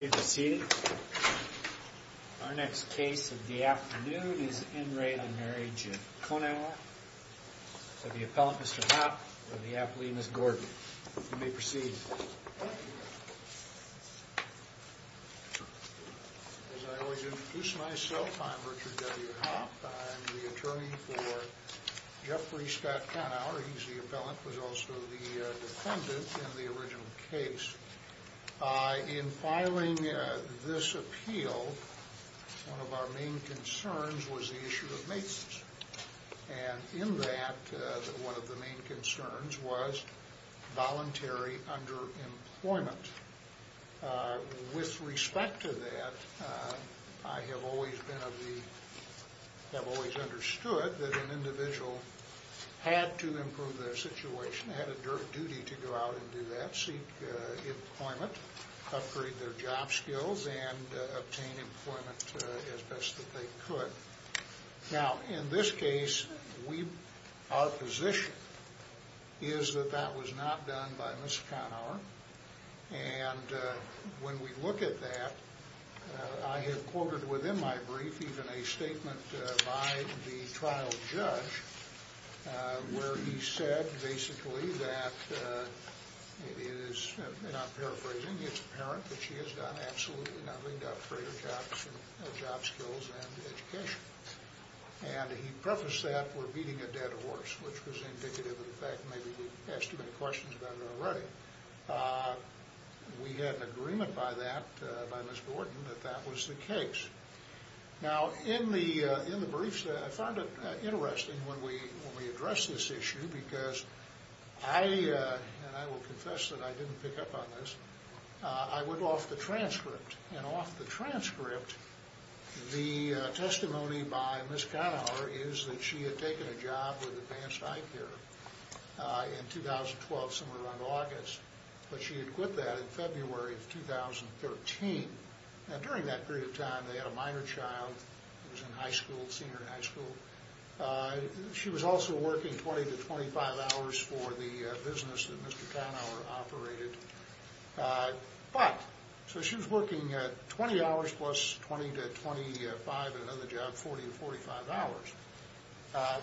You may be seated. Our next case of the afternoon is in re on marriage of Conour to the appellant Mr. Hopp and the appellee Ms. Gordon. You may proceed. As I always introduce myself, I'm Richard W. Hopp. I'm the attorney for Jeffrey Scott Conour. He's the appellant. He was also the defendant in the original case. In filing this appeal, one of our main concerns was the issue of maintenance. And in that, one of the main concerns was voluntary underemployment. With respect to that, I have always understood that an individual had to improve their situation, had a duty to go out and do that, seek employment, upgrade their job skills, and obtain employment as best that they could. Now, in this case, our position is that that was not done by Ms. Conour. And when we look at that, I have quoted within my brief even a statement by the trial judge where he said basically that it is, and I'm paraphrasing, it's apparent that she has done absolutely nothing to upgrade her job skills and education. And he prefaced that with beating a dead horse, which was indicative of the fact that maybe we asked too many questions about her already. We had an agreement by that, by Ms. Gordon, that that was the case. Now, in the briefs, I found it interesting when we addressed this issue because I, and I will confess that I didn't pick up on this, I went off the transcript. And off the transcript, the testimony by Ms. Conour is that she had taken a job with Advanced Eye Care in 2012, somewhere around August, but she had quit that in February of 2013. Now, during that period of time, they had a minor child who was in high school, senior in high school. She was also working 20 to 25 hours for the business that Mr. Conour operated. But, so she was working 20 hours plus 20 to 25 at another job, 40 to 45 hours.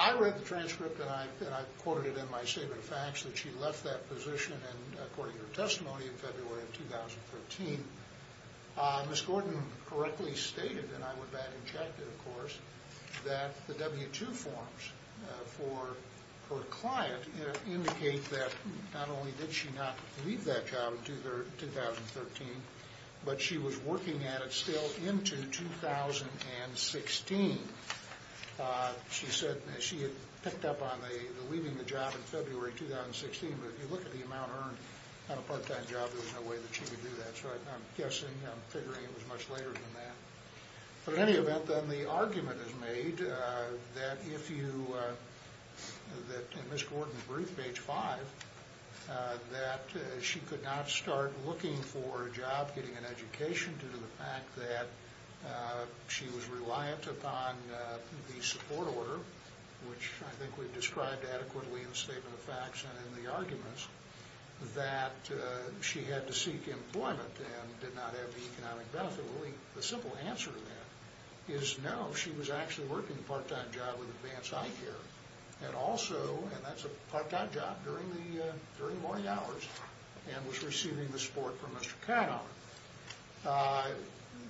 I read the transcript and I quoted it in my statement of facts that she left that position and according to her testimony in February of 2013, Ms. Gordon correctly stated, and I went back and checked it, of course, that the W-2 forms for her client indicate that not only did she not leave that job in 2013, but she was working at it still into 2016. She said she had picked up on the leaving the job in February 2016, but if you look at the amount earned on a part-time job, there's no way that she would do that. So I'm guessing, I'm figuring it was much later than that. But in any event, then the argument is made that if you, that in Ms. Gordon's brief, page 5, that she could not start looking for a job, getting an education due to the fact that she was reliant upon the support order, which I think we've described adequately in the statement of facts and in the arguments, that she had to seek employment and did not have the economic benefit. Really, the simple answer to that is no. She was actually working a part-time job with Advanced Eye Care and also, and that's a part-time job, during the morning hours and was receiving the support from Mr. Conour.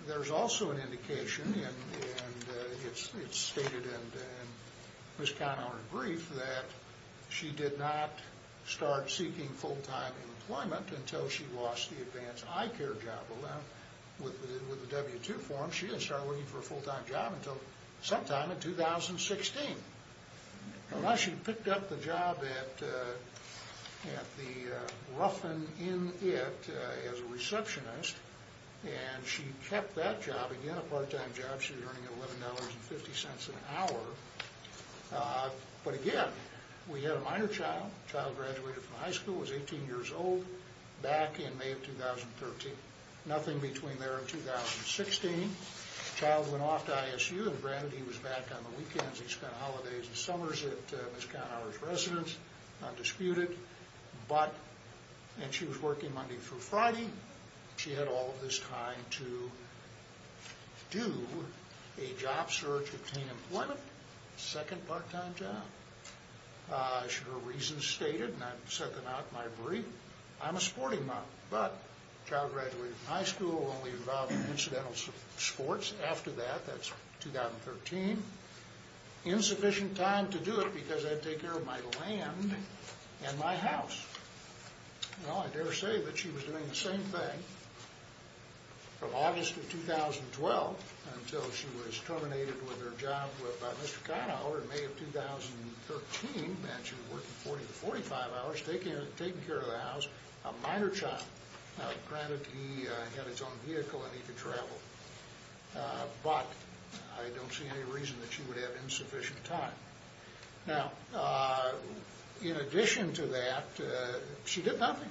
There's also an indication, and it's stated in Ms. Conour's brief, that she did not start seeking full-time employment until she lost the Advanced Eye Care job. With the W-2 form, she didn't start looking for a full-time job until sometime in 2016. Now, she picked up the job at the Ruffin In It as a receptionist, and she kept that job. Again, a part-time job, she was earning $11.50 an hour. But again, we had a minor child. The child graduated from high school, was 18 years old, back in May of 2013. Nothing between there and 2016. The child went off to ISU and, granted, he was back on the weekends. He spent holidays and summers at Ms. Conour's residence, undisputed. But, and she was working Monday through Friday. She had all of this time to do a job search, obtain employment, second part-time job. She had her reasons stated, and I've set them out in my brief. I'm a sporting mom, but the child graduated from high school, only involved in incidental sports after that. That's 2013. Insufficient time to do it because I had to take care of my land and my house. Well, I dare say that she was doing the same thing from August of 2012 until she was terminated with her job with Mr. Conour in May of 2013. That she was working 40 to 45 hours, taking care of the house, a minor child. Granted, he had his own vehicle and he could travel. But, I don't see any reason that she would have insufficient time. Now, in addition to that, she did nothing.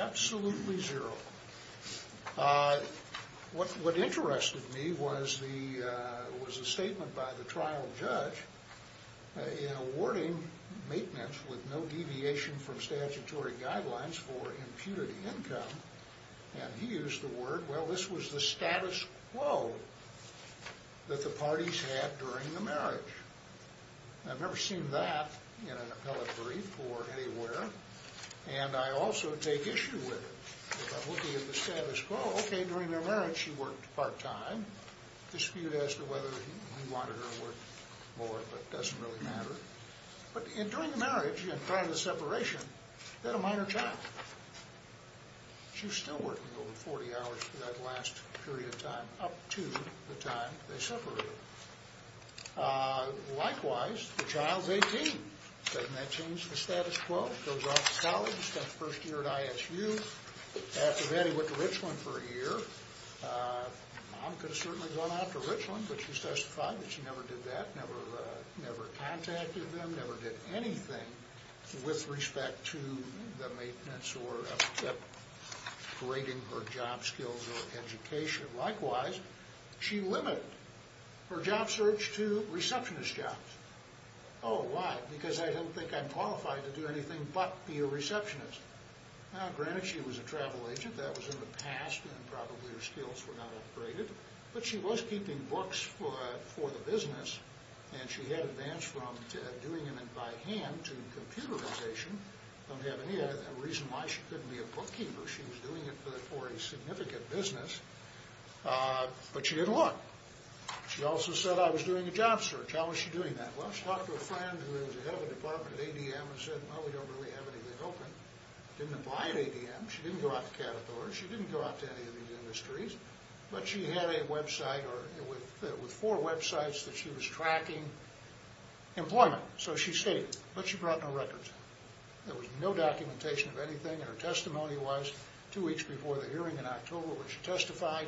Absolutely zero. What interested me was a statement by the trial judge in awarding maintenance with no deviation from statutory guidelines for imputed income. And he used the word, well, this was the status quo that the parties had during the marriage. I've never seen that in an appellate brief or anywhere. And I also take issue with it. If I'm looking at the status quo, okay, during their marriage she worked part-time. Dispute as to whether he wanted her to work more, but it doesn't really matter. But during the marriage and prior to the separation, they had a minor child. She was still working over 40 hours for that last period of time up to the time they separated. Likewise, the child's 18. Doesn't that change the status quo? Goes off to college, spends the first year at ISU. After that he went to Richland for a year. Mom could have certainly gone out to Richland, but she testified that she never did that. Never contacted them, never did anything with respect to the maintenance or upgrading her job skills or education. Likewise, she limited her job search to receptionist jobs. Oh, why? Because I don't think I'm qualified to do anything but be a receptionist. Now, granted, she was a travel agent. That was in the past, and probably her skills were not upgraded. But she was keeping books for the business, and she had advanced from doing it by hand to computerization. Don't have any reason why she couldn't be a bookkeeper. She was doing it for a significant business. But she didn't look. She also said, I was doing a job search. How was she doing that? Well, she talked to a friend who was the head of a department at ADM and said, well, we don't really have anything open. Didn't apply at ADM. She didn't go out to Caterpillar. She didn't go out to any of these industries. But she had a website with four websites that she was tracking employment. So she stayed, but she brought no records. There was no documentation of anything. And her testimony was two weeks before the hearing in October when she testified.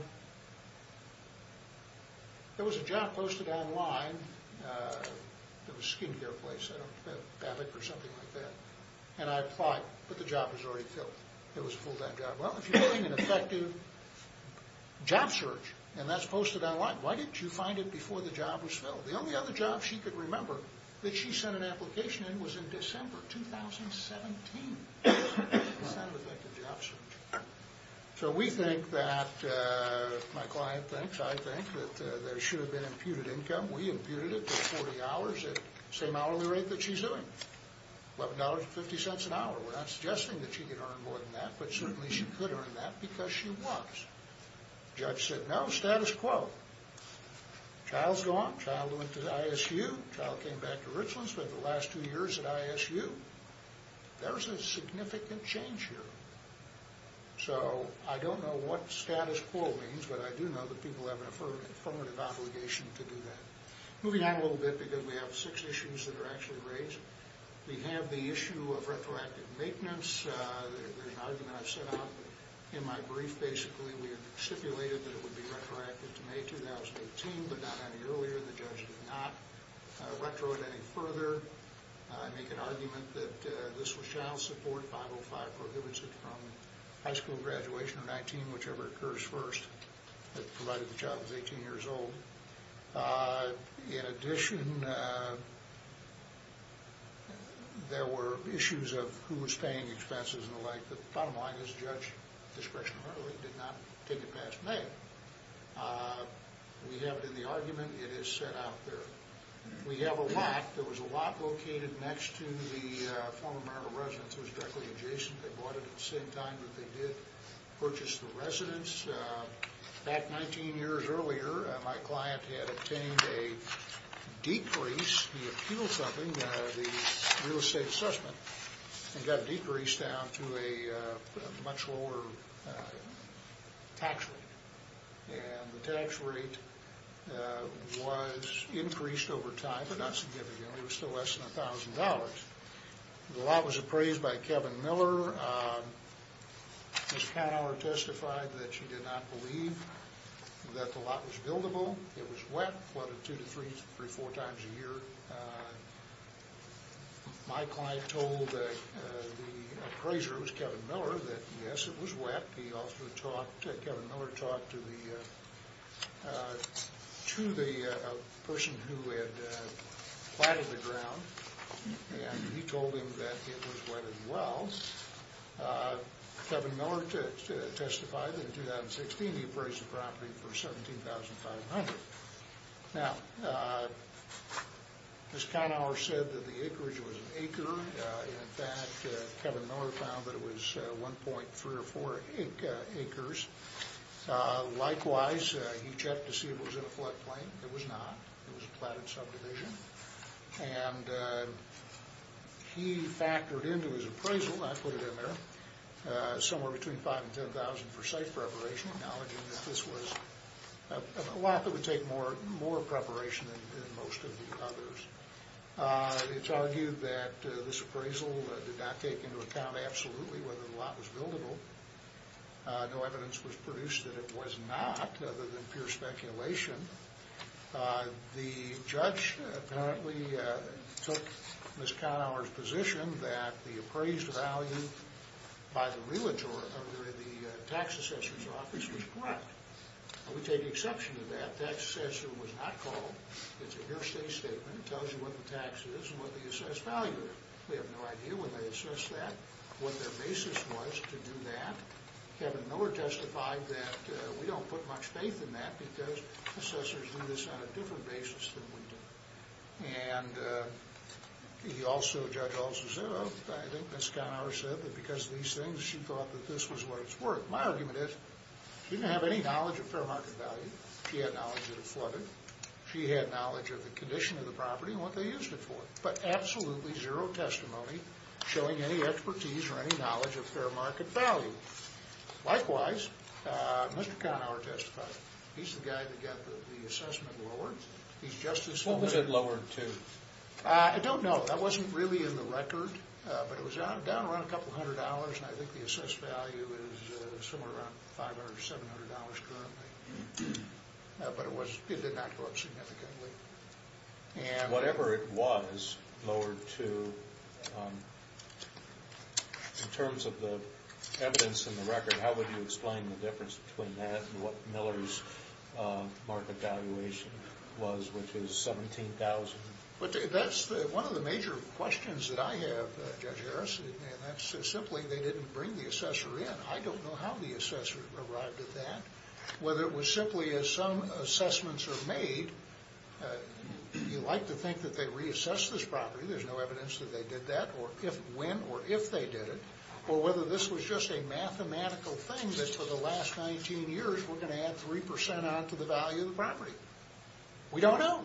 There was a job posted online. It was a skin care place, I don't know, BAPIC or something like that. And I applied, but the job was already filled. It was a full-time job. She said, well, if you're doing an effective job search, and that's posted online, why didn't you find it before the job was filled? The only other job she could remember that she sent an application in was in December 2017. That's not an effective job search. So we think that, my client thinks, I think, that there should have been imputed income. We imputed it for 40 hours at the same hourly rate that she's doing. $11.50 an hour. We're not suggesting that she could earn more than that, but certainly she could earn that because she was. Judge said, no, status quo. Child's gone. Child went to ISU. Child came back to Richland. Spent the last two years at ISU. There was a significant change here. So I don't know what status quo means, but I do know that people have an affirmative obligation to do that. Moving on a little bit because we have six issues that are actually raised. We have the issue of retroactive maintenance. There's an argument I've set out in my brief. Basically, we have stipulated that it would be retroactive to May 2018, but not any earlier. The judge did not retro it any further. I make an argument that this shall support 505, prohibits it from high school graduation or 19, whichever occurs first, provided the child is 18 years old. In addition, there were issues of who was paying expenses and the like. The bottom line is the judge discretionarily did not take it past May. We have it in the argument. It is set out there. We have a lot. There was a lot located next to the former Maryland residence. It was directly adjacent. They bought it at the same time that they did purchase the residence. About 19 years earlier, my client had obtained a decrease. He appealed something, the real estate assessment, and got decreased down to a much lower tax rate. And the tax rate was increased over time, but not significantly. It was still less than $1,000. The lot was appraised by Kevin Miller. Ms. Panhauer testified that she did not believe that the lot was buildable. It was wet, flooded two to three, three, four times a year. My client told the appraiser, it was Kevin Miller, that, yes, it was wet. He offered a talk. Kevin Miller talked to the person who had platted the ground, and he told him that it was wet as well. Kevin Miller testified that, in 2016, he appraised the property for $17,500. Now, Ms. Panhauer said that the acreage was an acre. In fact, Kevin Miller found that it was 1.3 or 4 acres. Likewise, he checked to see if it was in a floodplain. It was not. It was a platted subdivision. And he factored into his appraisal, and I put it in there, somewhere between $5,000 and $10,000 for site preparation, acknowledging that this was a lot that would take more preparation than most of the others. It's argued that this appraisal did not take into account absolutely whether the lot was buildable. No evidence was produced that it was not, other than pure speculation. The judge apparently took Ms. Panhauer's position that the appraised value by the tax assessor's office was correct. We take exception to that. Tax assessor was not called. It's a hearsay statement. It tells you what the tax is and what the assessed value is. We have no idea when they assessed that, what their basis was to do that. Kevin Miller testified that we don't put much faith in that because assessors do this on a different basis than we do. And he also, Judge Alcesero, I think Ms. Panhauer said that because of these things, she thought that this was where it's worth. My argument is she didn't have any knowledge of fair market value. She had knowledge that it flooded. She had knowledge of the condition of the property and what they used it for. But absolutely zero testimony showing any expertise or any knowledge of fair market value. Likewise, Mr. Kahnauer testified. He's the guy that got the assessment lowered. He's just as- What was it lowered to? I don't know. That wasn't really in the record. But it was down around a couple hundred dollars, and I think the assessed value is somewhere around $500 or $700 currently. But it did not go up significantly. Whatever it was lowered to, in terms of the evidence in the record, how would you explain the difference between that and what Miller's market valuation was, which is $17,000? That's one of the major questions that I have, Judge Harris, and that's simply they didn't bring the assessor in. I don't know how the assessor arrived at that. Whether it was simply as some assessments are made, you like to think that they reassessed this property. There's no evidence that they did that or if, when, or if they did it. Or whether this was just a mathematical thing that for the last 19 years we're going to add 3% on to the value of the property. We don't know.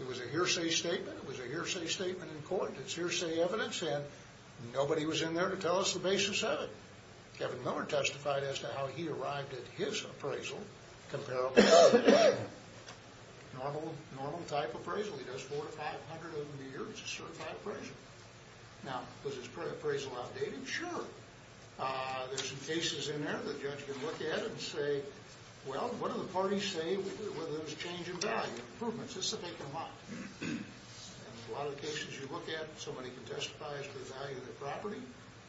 It was a hearsay statement. It was a hearsay statement in court. It's hearsay evidence, and nobody was in there to tell us the basis of it. Kevin Miller testified as to how he arrived at his appraisal, comparable to what? Normal type appraisal. He does 400 of them a year. It's a certified appraisal. Now, was his appraisal outdated? Sure. There's some cases in there the judge can look at and say, well, what do the parties say whether there was change in value, improvements? This is a vacant lot. And a lot of the cases you look at, somebody can testify as to the value of the property.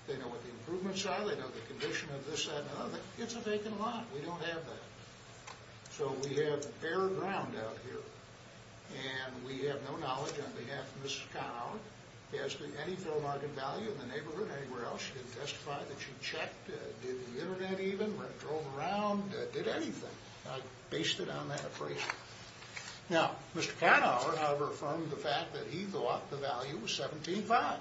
They know what the improvements are. They know the condition of this, that, and the other. It's a vacant lot. We don't have that. So we have bare ground out here, and we have no knowledge on behalf of Mrs. Kahnauer as to any fair market value in the neighborhood, anywhere else. She didn't testify that she checked, did the Internet even, drove around, did anything. I based it on that appraisal. Now, Mr. Kahnauer, however, affirmed the fact that he thought the value was $17,500.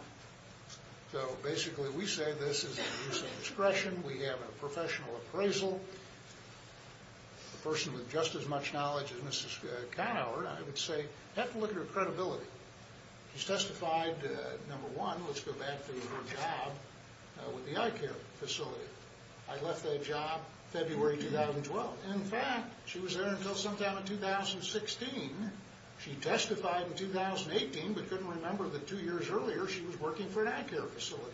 So basically we say this is an abuse of discretion. We have a professional appraisal. A person with just as much knowledge as Mrs. Kahnauer, I would say, you have to look at her credibility. She testified, number one, let's go back to her job with the eye care facility. I left that job February 2012. In fact, she was there until sometime in 2016. She testified in 2018, but couldn't remember that two years earlier she was working for an eye care facility.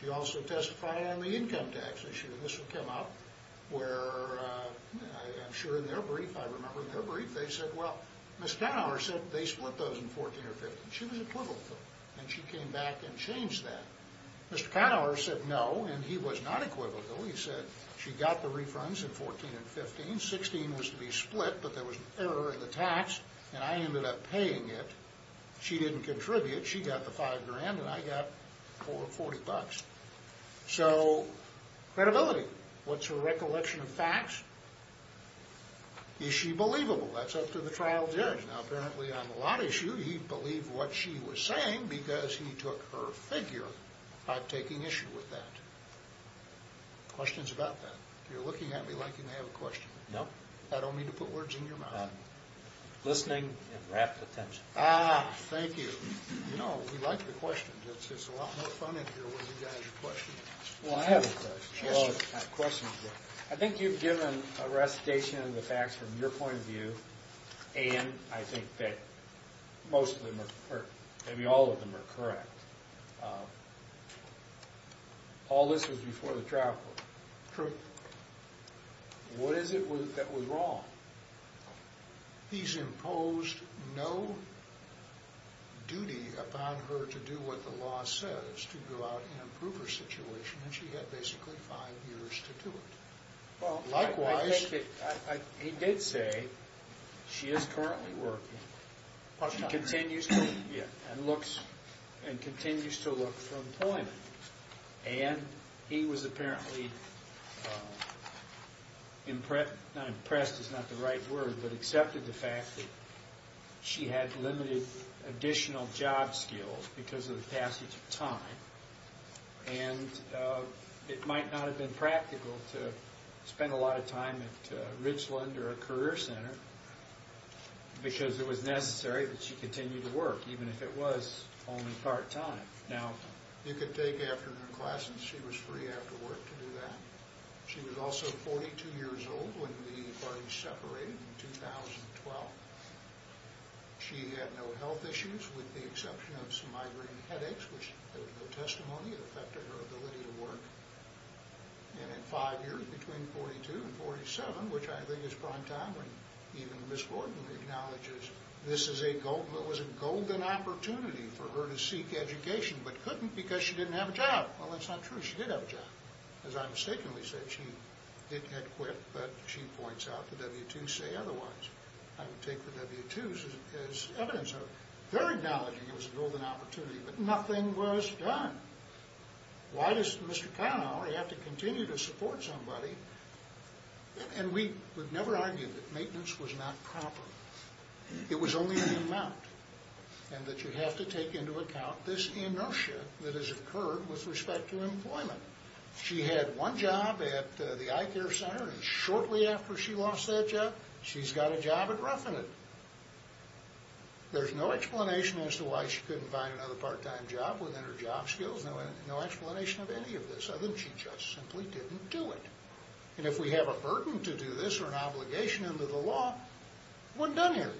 She also testified on the income tax issue. This would come up where I'm sure in their brief, I remember in their brief, they said, well, Mrs. Kahnauer said they split those in 2014 or 2015. She was equivocal, and she came back and changed that. Mr. Kahnauer said no, and he was not equivocal. He said she got the refunds in 2014 and 2015. 2016 was to be split, but there was an error in the tax, and I ended up paying it. She didn't contribute. She got the $5,000, and I got $40. So credibility, what's her recollection of facts? Is she believable? That's up to the trial judge. Now apparently on the lot issue, he believed what she was saying because he took her figure by taking issue with that. Questions about that? You're looking at me like you may have a question. No. I don't mean to put words in your mouth. Listening and rapt attention. Ah, thank you. You know, we like the questions. It's a lot more fun in here when you guys question. Well, I have a question. Sure. I think you've given a recitation of the facts from your point of view, and I think that most of them are, or maybe all of them are correct. All this was before the trial court. True. What is it that was wrong? He's imposed no duty upon her to do what the law says, to go out and approve her situation, and she had basically five years to do it. Likewise. He did say she is currently working and continues to look for employment, and he was apparently impressed, not impressed is not the right word, but accepted the fact that she had limited additional job skills because of the passage of time, and it might not have been practical to spend a lot of time at Richland or a career center because it was necessary that she continue to work, even if it was only part-time. Now, you could take afternoon classes. She was free after work to do that. She was also 42 years old when the parties separated in 2012. She had no health issues with the exception of some migraine headaches, which there was no testimony that affected her ability to work. And in five years between 42 and 47, which I think is prime time, when even Ms. Horton acknowledges this was a golden opportunity for her to seek education but couldn't because she didn't have a job. Well, that's not true. She did have a job. As I mistakenly said, she had quit, but she points out the W-2s say otherwise. I would take the W-2s as evidence of her acknowledging it was a golden opportunity, but nothing was done. Why does Mr. Kahnauer have to continue to support somebody? And we would never argue that maintenance was not proper. It was only the amount, and that you have to take into account this inertia that has occurred with respect to employment. She had one job at the eye care center, and shortly after she lost that job, she's got a job at Ruffinant. There's no explanation as to why she couldn't find another part-time job within her job skills, no explanation of any of this other than she just simply didn't do it. And if we have a burden to do this or an obligation under the law, it wasn't done here.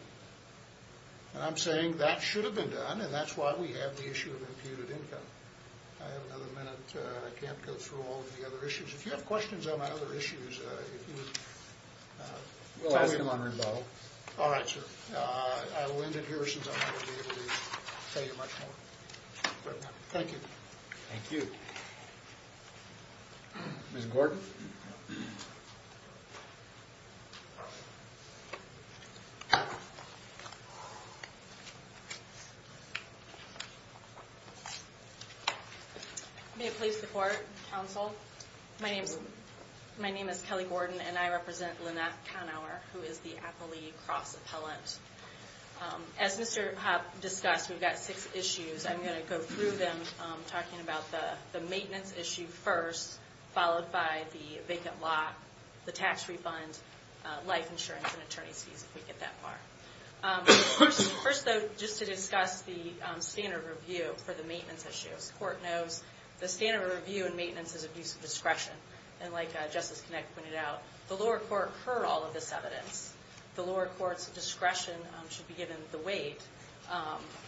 And I'm saying that should have been done, and that's why we have the issue of imputed income. I have another minute. I can't go through all of the other issues. If you have questions on my other issues, if you would tell me. We'll ask them on rebuttal. All right, sir. I will end it here since I'm not going to be able to tell you much more. Thank you. Thank you. Ms. Gordon? May it please the Court, Counsel? My name is Kelly Gordon, and I represent Lynette Conower, who is the Appley Cross Appellant. As Mr. Hopp discussed, we've got six issues. I'm going to go through them, talking about the maintenance issue first, followed by the vacant lot, the tax refund, life insurance, and attorney's fees, if we get that far. First, though, just to discuss the standard review for the maintenance issues. The Court knows the standard review in maintenance is abuse of discretion. And like Justice Connick pointed out, the lower court heard all of this evidence. The lower court's discretion should be given the weight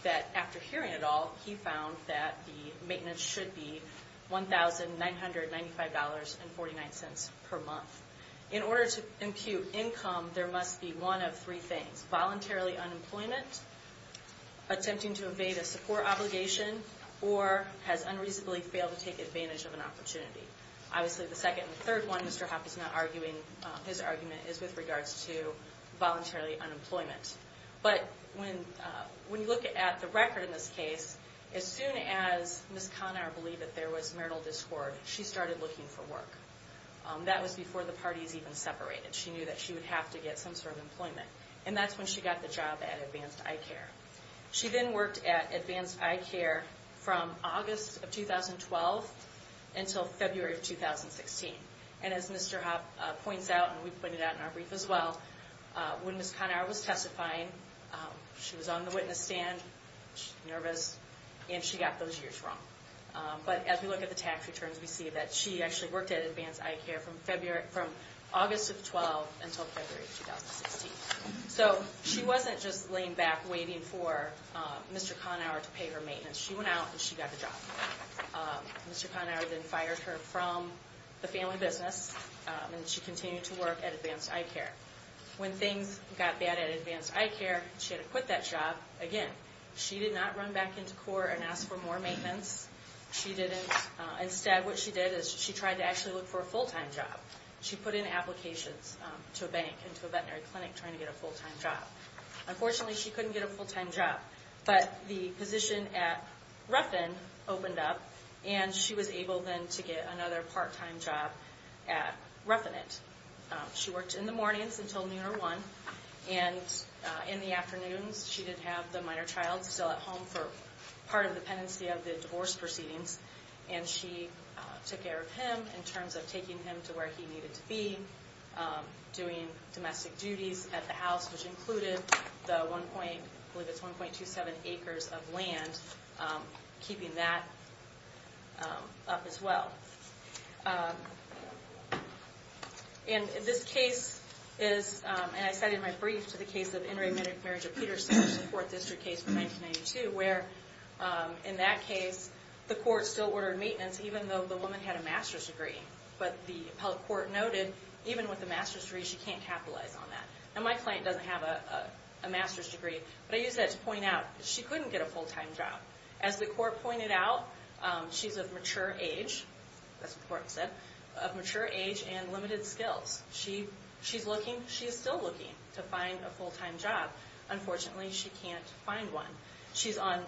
that, after hearing it all, he found that the maintenance should be $1,995.49 per month. In order to impute income, there must be one of three things. Voluntarily unemployment, attempting to evade a support obligation, or has unreasonably failed to take advantage of an opportunity. Obviously, the second and third one, Mr. Hopp is not arguing his argument, is with regards to voluntarily unemployment. But when you look at the record in this case, as soon as Ms. Conner believed that there was marital discord, she started looking for work. That was before the parties even separated. She knew that she would have to get some sort of employment. And that's when she got the job at Advanced Eye Care. She then worked at Advanced Eye Care from August of 2012 until February of 2016. And as Mr. Hopp points out, and we pointed out in our brief as well, when Ms. Conner was testifying, she was on the witness stand, nervous, and she got those years wrong. But as we look at the tax returns, we see that she actually worked at Advanced Eye Care from August of 2012 until February of 2016. So she wasn't just laying back waiting for Mr. Conner to pay her maintenance. She went out and she got the job. Mr. Conner then fired her from the family business, and she continued to work at Advanced Eye Care. When things got bad at Advanced Eye Care, she had to quit that job again. She did not run back into court and ask for more maintenance. Instead, what she did is she tried to actually look for a full-time job. She put in applications to a bank and to a veterinary clinic trying to get a full-time job. Unfortunately, she couldn't get a full-time job. But the position at Ruffin opened up, and she was able then to get another part-time job at Ruffinant. She worked in the mornings until noon or 1, and in the afternoons she did have the minor child still at home for part of the pendency of the divorce proceedings. And she took care of him in terms of taking him to where he needed to be, doing domestic duties at the house, which included the 1.27 acres of land, keeping that up as well. And this case is, and I cited my brief, to the case of In re Marriage of Peterson, a support district case from 1992, where in that case the court still ordered maintenance even though the woman had a master's degree. But the appellate court noted, even with a master's degree, she can't capitalize on that. Now, my client doesn't have a master's degree, but I use that to point out she couldn't get a full-time job. As the court pointed out, she's of mature age, that's what the court said, of mature age and limited skills. She is still looking to find a full-time job. Unfortunately, she can't find one. She's on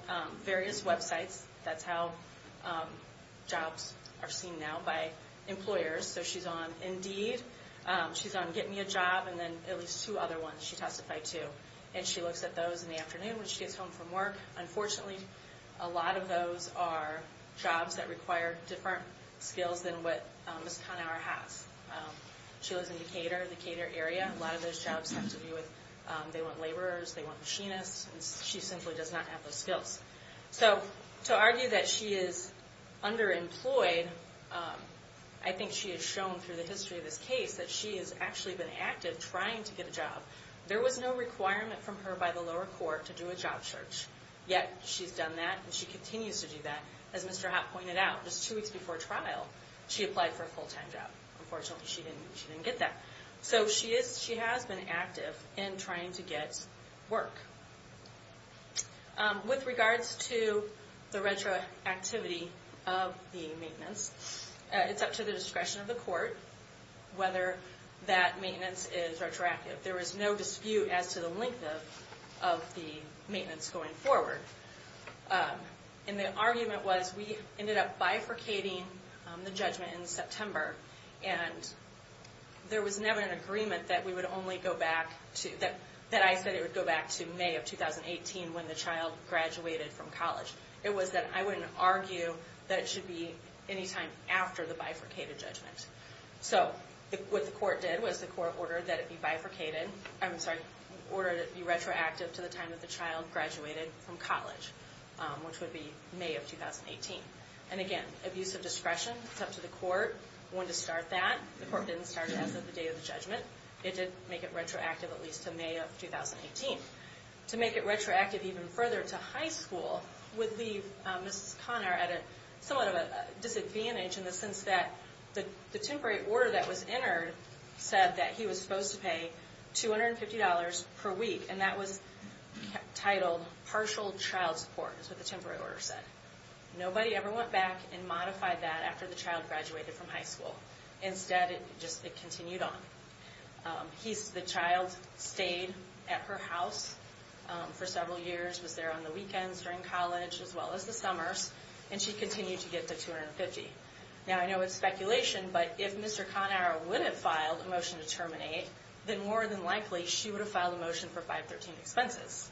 various websites. That's how jobs are seen now by employers. So she's on Indeed, she's on Get Me a Job, and then at least two other ones she testified to. And she looks at those in the afternoon when she gets home from work. Unfortunately, a lot of those are jobs that require different skills than what Ms. Conower has. She lives in Decatur, the Decatur area. A lot of those jobs have to do with they want laborers, they want machinists. She simply does not have those skills. So to argue that she is underemployed, I think she has shown through the history of this case that she has actually been active trying to get a job. There was no requirement from her by the lower court to do a job search, yet she's done that and she continues to do that. As Mr. Hott pointed out, just two weeks before trial, she applied for a full-time job. Unfortunately, she didn't get that. So she has been active in trying to get work. With regards to the retroactivity of the maintenance, it's up to the discretion of the court whether that maintenance is retroactive. There is no dispute as to the length of the maintenance going forward. The argument was we ended up bifurcating the judgment in September, and there was never an agreement that I said it would go back to May of 2018 when the child graduated from college. It was that I wouldn't argue that it should be any time after the bifurcated judgment. What the court did was the court ordered that it be retroactive to the time that the child graduated from college, which would be May of 2018. Again, abuse of discretion, it's up to the court when to start that. The court didn't start it as of the day of the judgment. It did make it retroactive at least to May of 2018. To make it retroactive even further to high school would leave Mrs. Conner at somewhat of a disadvantage in the sense that the temporary order that was entered said that he was supposed to pay $250 per week, and that was titled partial child support is what the temporary order said. Nobody ever went back and modified that after the child graduated from high school. Instead, it just continued on. The child stayed at her house for several years, was there on the weekends during college as well as the summers, and she continued to get the $250. Now, I know it's speculation, but if Mr. Conner would have filed a motion to terminate, then more than likely she would have filed a motion for 513 expenses.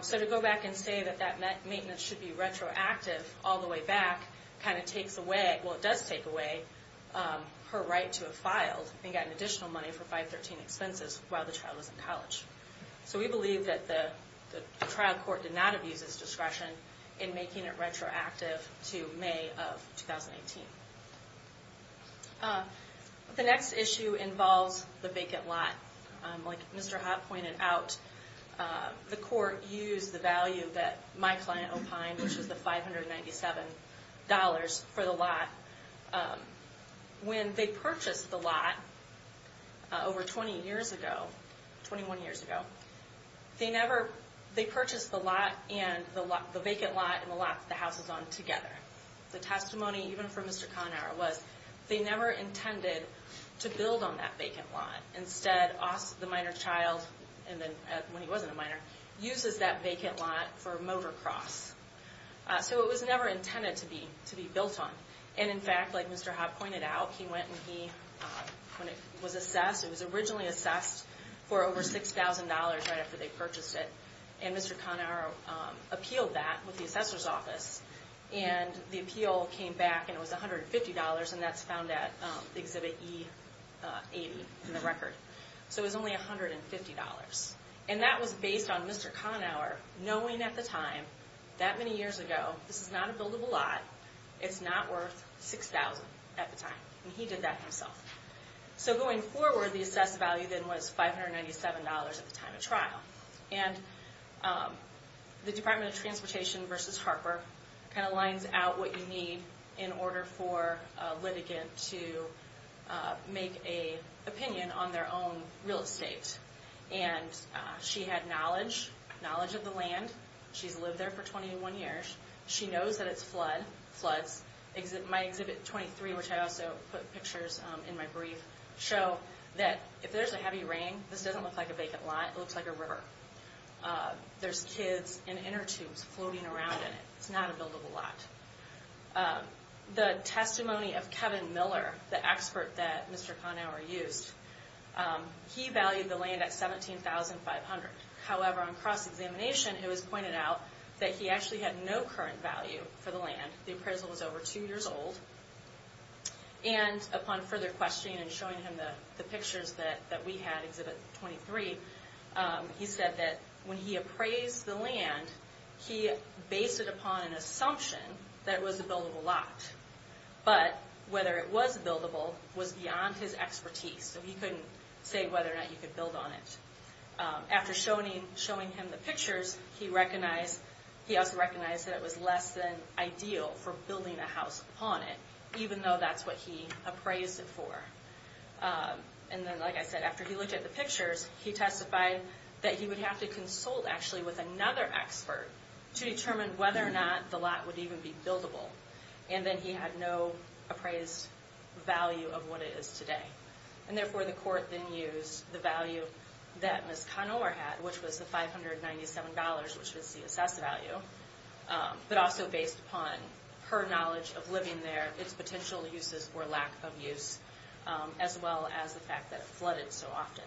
So to go back and say that that maintenance should be retroactive all the way back kind of takes away, well, it does take away her right to have filed and gotten additional money for 513 expenses while the child was in college. So we believe that the trial court did not abuse its discretion in making it retroactive to May of 2018. The next issue involves the vacant lot. Like Mr. Hott pointed out, the court used the value that my client opined, when they purchased the lot over 20 years ago, 21 years ago, they purchased the vacant lot and the lot that the house is on together. The testimony, even from Mr. Conner, was they never intended to build on that vacant lot. Instead, the minor child, when he wasn't a minor, uses that vacant lot for a motocross. So it was never intended to be built on. And in fact, like Mr. Hott pointed out, he went and he, when it was assessed, it was originally assessed for over $6,000 right after they purchased it. And Mr. Conner appealed that with the assessor's office. And the appeal came back and it was $150, and that's found at Exhibit E80 in the record. So it was only $150. And that was based on Mr. Conner knowing at the time, that many years ago, this is not a buildable lot, it's not worth $6,000 at the time. And he did that himself. So going forward, the assessed value then was $597 at the time of trial. And the Department of Transportation versus Harper kind of lines out what you need in order for a litigant to make an opinion on their own real estate. And she had knowledge, knowledge of the land. She's lived there for 21 years. She knows that it's floods. My Exhibit 23, which I also put pictures in my brief, show that if there's a heavy rain, this doesn't look like a vacant lot. It looks like a river. There's kids and inner tubes floating around in it. It's not a buildable lot. The testimony of Kevin Miller, the expert that Mr. Conner used, he valued the land at $17,500. However, on cross-examination, it was pointed out that he actually had no current value for the land. The appraisal was over 2 years old. And upon further questioning and showing him the pictures that we had, Exhibit 23, he said that when he appraised the land, he based it upon an assumption that it was a buildable lot. But whether it was buildable was beyond his expertise. So he couldn't say whether or not you could build on it. After showing him the pictures, he also recognized that it was less than ideal for building a house upon it, even though that's what he appraised it for. And then, like I said, after he looked at the pictures, he testified that he would have to consult, actually, with another expert to determine whether or not the lot would even be buildable. And then he had no appraised value of what it is today. And therefore, the court then used the value that Ms. Conover had, which was the $597, which was the assessed value, but also based upon her knowledge of living there, its potential uses for lack of use, as well as the fact that it flooded so often.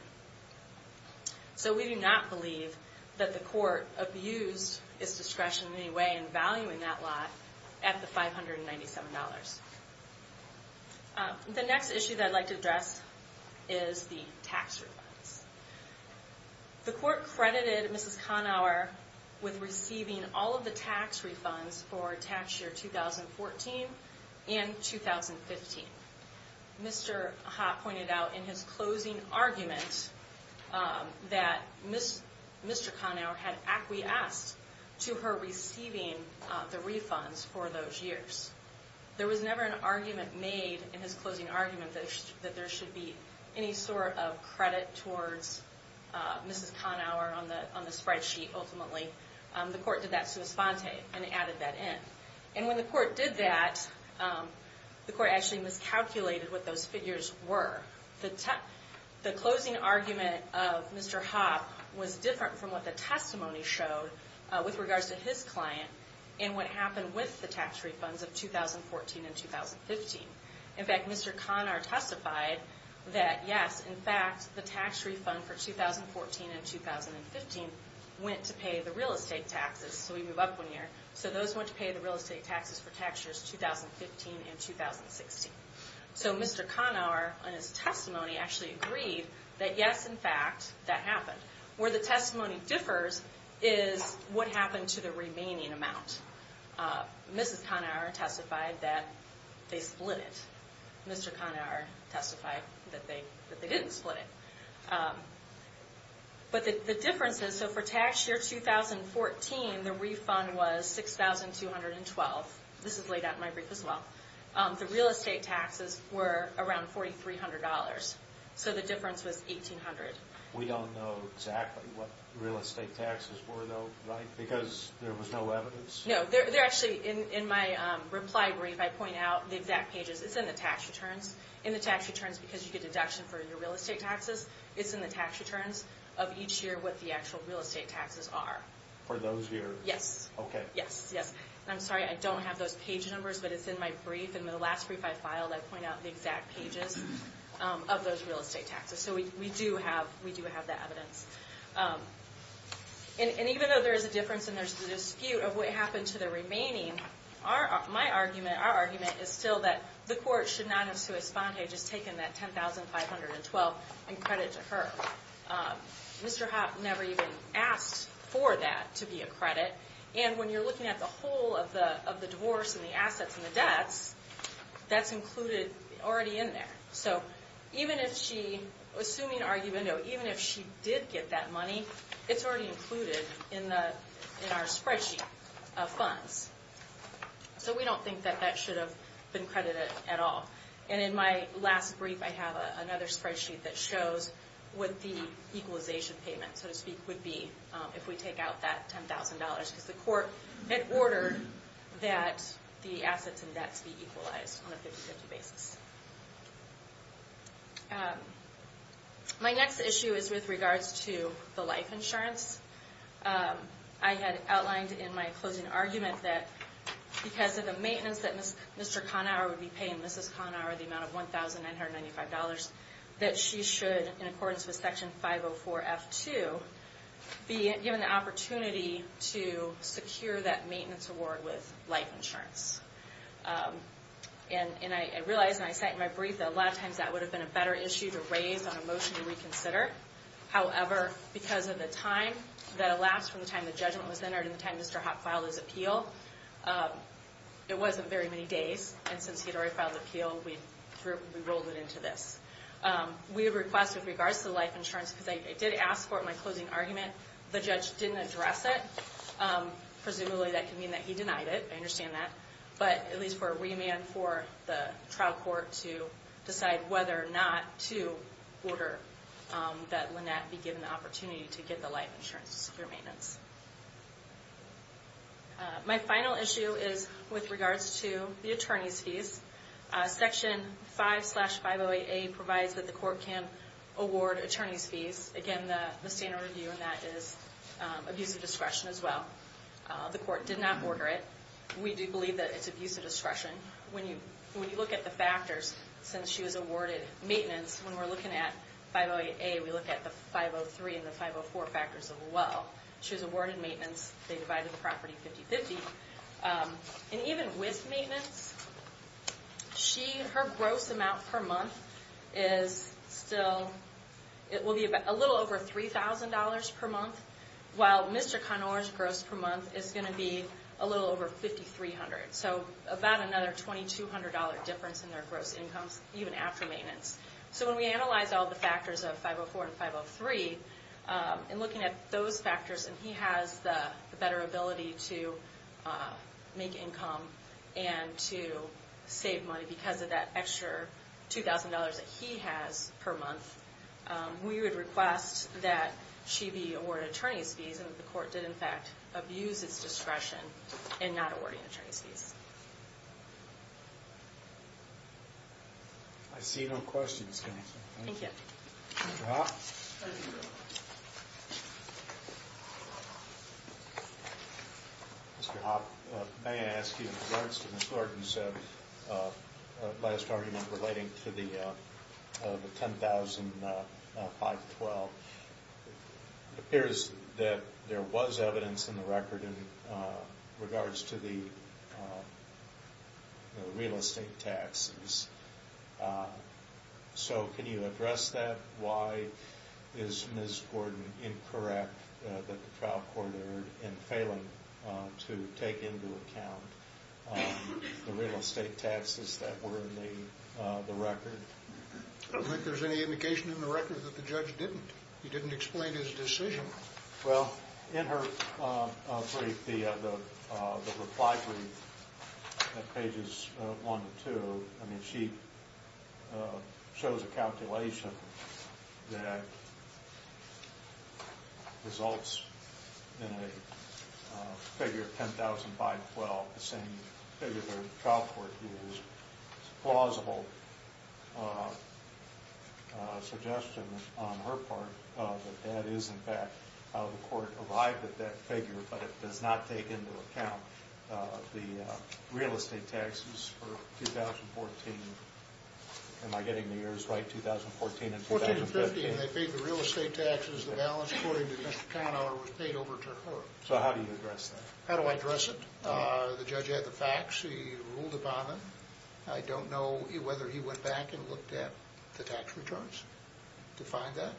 So we do not believe that the court abused its discretion in any way in valuing that lot at the $597. The next issue that I'd like to address is the tax refunds. The court credited Ms. Conover with receiving all of the tax refunds for tax year 2014 and 2015. Mr. Ha pointed out in his closing argument that Mr. Conover had acquiesced to her receiving the refunds for those years. There was never an argument made in his closing argument that there should be any sort of credit towards Mrs. Conover on the spreadsheet, ultimately. The court did that sui sponte and added that in. And when the court did that, the court actually miscalculated what those figures were. The closing argument of Mr. Ha was different from what the testimony showed with regards to his client and what happened with the tax refunds of 2014 and 2015. In fact, Mr. Conover testified that, yes, in fact, the tax refund for 2014 and 2015 went to pay the real estate taxes. So we move up one year. So those went to pay the real estate taxes for tax years 2015 and 2016. So Mr. Conover, in his testimony, actually agreed that, yes, in fact, that happened. Where the testimony differs is what happened to the remaining amount. Mrs. Conover testified that they split it. Mr. Conover testified that they didn't split it. But the difference is, so for tax year 2014, the refund was $6,212. This is laid out in my brief as well. The real estate taxes were around $4,300. So the difference was $1,800. We don't know exactly what the real estate taxes were, though, right? Because there was no evidence? No. Actually, in my reply brief, I point out the exact pages. It's in the tax returns. In the tax returns, because you get a deduction for your real estate taxes, it's in the tax returns of each year what the actual real estate taxes are. For those years? Yes. Okay. Yes, yes. And I'm sorry, I don't have those page numbers, but it's in my brief. And in the last brief I filed, I point out the exact pages of those real estate taxes. So we do have that evidence. And even though there is a difference and there's a dispute of what happened to the remaining, my argument, our argument, is still that the court should not have to respond to just taking that $10,512 in credit to her. Mr. Hopp never even asked for that to be a credit. And when you're looking at the whole of the divorce and the assets and the debts, that's included already in there. So even if she, assuming argument, even if she did get that money, it's already included in our spreadsheet of funds. So we don't think that that should have been credited at all. And in my last brief, I have another spreadsheet that shows what the equalization payment, so to speak, would be if we take out that $10,000. Because the court had ordered that the assets and debts be equalized on a 50-50 basis. My next issue is with regards to the life insurance. I had outlined in my closing argument that because of the maintenance that Mr. Conower would be paying Mrs. Conower, the amount of $1,995, that she should, in accordance with Section 504F2, be given the opportunity to secure that maintenance award with life insurance. And I realized, and I said in my brief, that a lot of times that would have been a better issue to raise on a motion to reconsider. However, because of the time that elapsed from the time the judgment was entered and the time Mr. Hopp filed his appeal, it wasn't very many days. And since he had already filed the appeal, we rolled it into this. We request, with regards to the life insurance, because I did ask for it in my closing argument. The judge didn't address it. Presumably that could mean that he denied it. I understand that. But at least for a remand for the trial court to decide whether or not to order that Lynette be given the opportunity to get the life insurance to secure maintenance. My final issue is with regards to the attorney's fees. Section 5-508A provides that the court can award attorney's fees. Again, the standard review in that is abuse of discretion as well. The court did not order it. We do believe that it's abuse of discretion. When you look at the factors, since she was awarded maintenance, when we're looking at 508A, we look at the 503 and the 504 factors as well. She was awarded maintenance. They divided the property 50-50. And even with maintenance, her gross amount per month is still... It will be a little over $3,000 per month. While Mr. Connors' gross per month is going to be a little over $5,300. So about another $2,200 difference in their gross incomes, even after maintenance. So when we analyze all the factors of 504 and 503, and looking at those factors, and he has the better ability to make income and to save money because of that extra $2,000 that he has per month, we would request that she be awarded attorney's fees. And the court did, in fact, abuse its discretion in not awarding attorney's fees. I see no questions. Thank you. Mr. Hoppe? Mr. Hoppe, may I ask you in regards to Ms. Larkin's last argument relating to the 10,512? It appears that there was evidence in the record in regards to the real estate taxes. So can you address that? Why is Ms. Gordon incorrect that the trial court erred in failing to take into account the real estate taxes that were in the record? I don't think there's any indication in the record that the judge didn't. He didn't explain his decision. Well, in her brief, the reply brief at pages 1 and 2, I mean, she shows a calculation that results in a figure of 10,512, the same figure that the trial court used. It's a plausible suggestion on her part that that is, in fact, how the court arrived at that figure, but it does not take into account the real estate taxes for 2014. Am I getting the years right, 2014 and 2015? 14 and 15, they paid the real estate taxes. The balance, according to Mr. Kahnauer, was paid over to her. So how do you address that? How do I address it? The judge had the facts. He ruled upon them. I don't know whether he went back and looked at the tax returns to find that.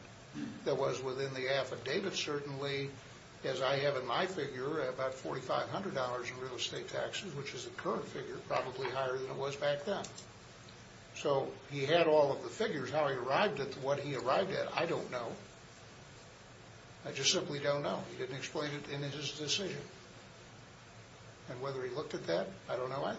That was within the affidavit, certainly, as I have in my figure, about $4,500 in real estate taxes, which is the current figure, probably higher than it was back then. So he had all of the figures. How he arrived at what he arrived at, I don't know. I just simply don't know. He didn't explain it in his decision. And whether he looked at that, I don't know either.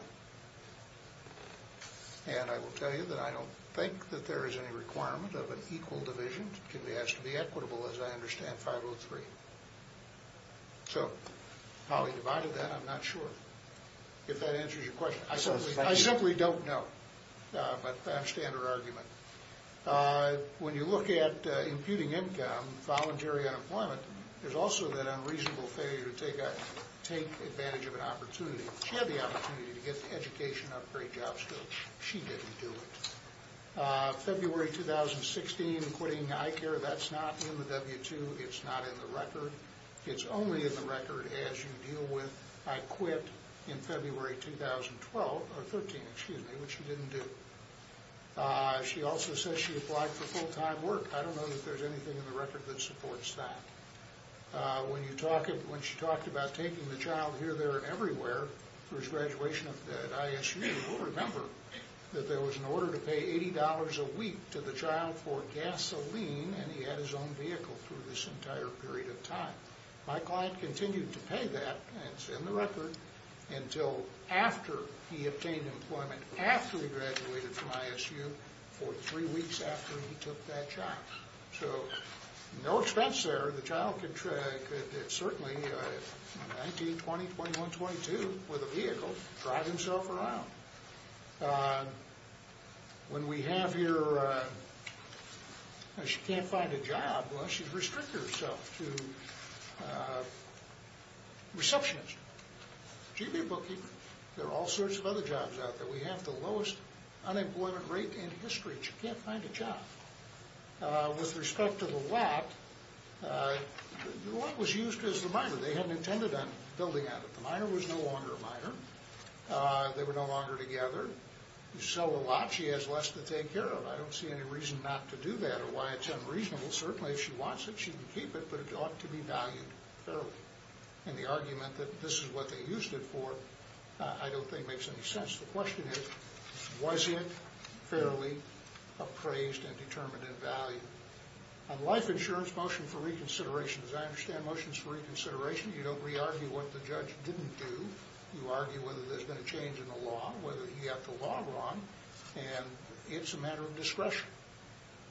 And I will tell you that I don't think that there is any requirement of an equal division. It has to be equitable, as I understand 503. So how he divided that, I'm not sure, if that answers your question. I simply don't know. But that's a standard argument. When you look at imputing income, voluntary unemployment, there's also that unreasonable failure to take advantage of an opportunity. She had the opportunity to get an education, upgrade job skills. She didn't do it. February 2016, quitting iCare, that's not in the W-2. It's not in the record. It's only in the record as you deal with I quit in February 2013, which she didn't do. She also says she applied for full-time work. I don't know if there's anything in the record that supports that. When she talked about taking the child here, there, and everywhere for his graduation at ISU, we'll remember that there was an order to pay $80 a week to the child for gasoline, and he had his own vehicle through this entire period of time. My client continued to pay that, and it's in the record, until after he obtained employment, after he graduated from ISU, for three weeks after he took that job. So no expense there. The child could certainly, 19, 20, 21, 22, with a vehicle, drive himself around. When we have here, she can't find a job. Well, she's restricted herself to receptionist, GB booking. There are all sorts of other jobs out there. We have the lowest unemployment rate in history. She can't find a job. With respect to the lab, the lab was used as the minor. They hadn't intended on building on it. The minor was no longer a minor. They were no longer together. You sell a lot. She has less to take care of. I don't see any reason not to do that or why it's unreasonable. Certainly, if she wants it, she can keep it, but it ought to be valued fairly. And the argument that this is what they used it for I don't think makes any sense. The question is, was it fairly appraised and determined in value? On life insurance, motion for reconsideration. As I understand, motion is for reconsideration. You don't re-argue what the judge didn't do. You argue whether there's been a change in the law, whether he got the law wrong, and it's a matter of discretion.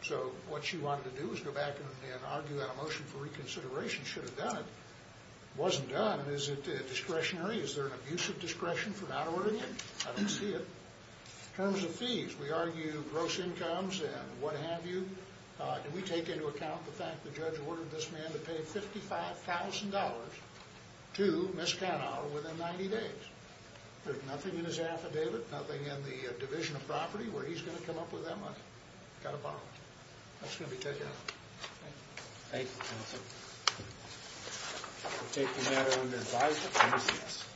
So what she wanted to do was go back and argue that a motion for reconsideration should have done it. It wasn't done. Is it discretionary? Is there an abuse of discretion for not ordering it? I don't see it. In terms of fees, we argue gross incomes and what have you. Do we take into account the fact the judge ordered this man to pay $55,000 to Ms. Kanawha within 90 days? There's nothing in his affidavit, nothing in the division of property where he's going to come up with that money. Got to borrow it. That's going to be taken out. Thank you. Thank you, counsel. We'll take the matter under advised appraisal.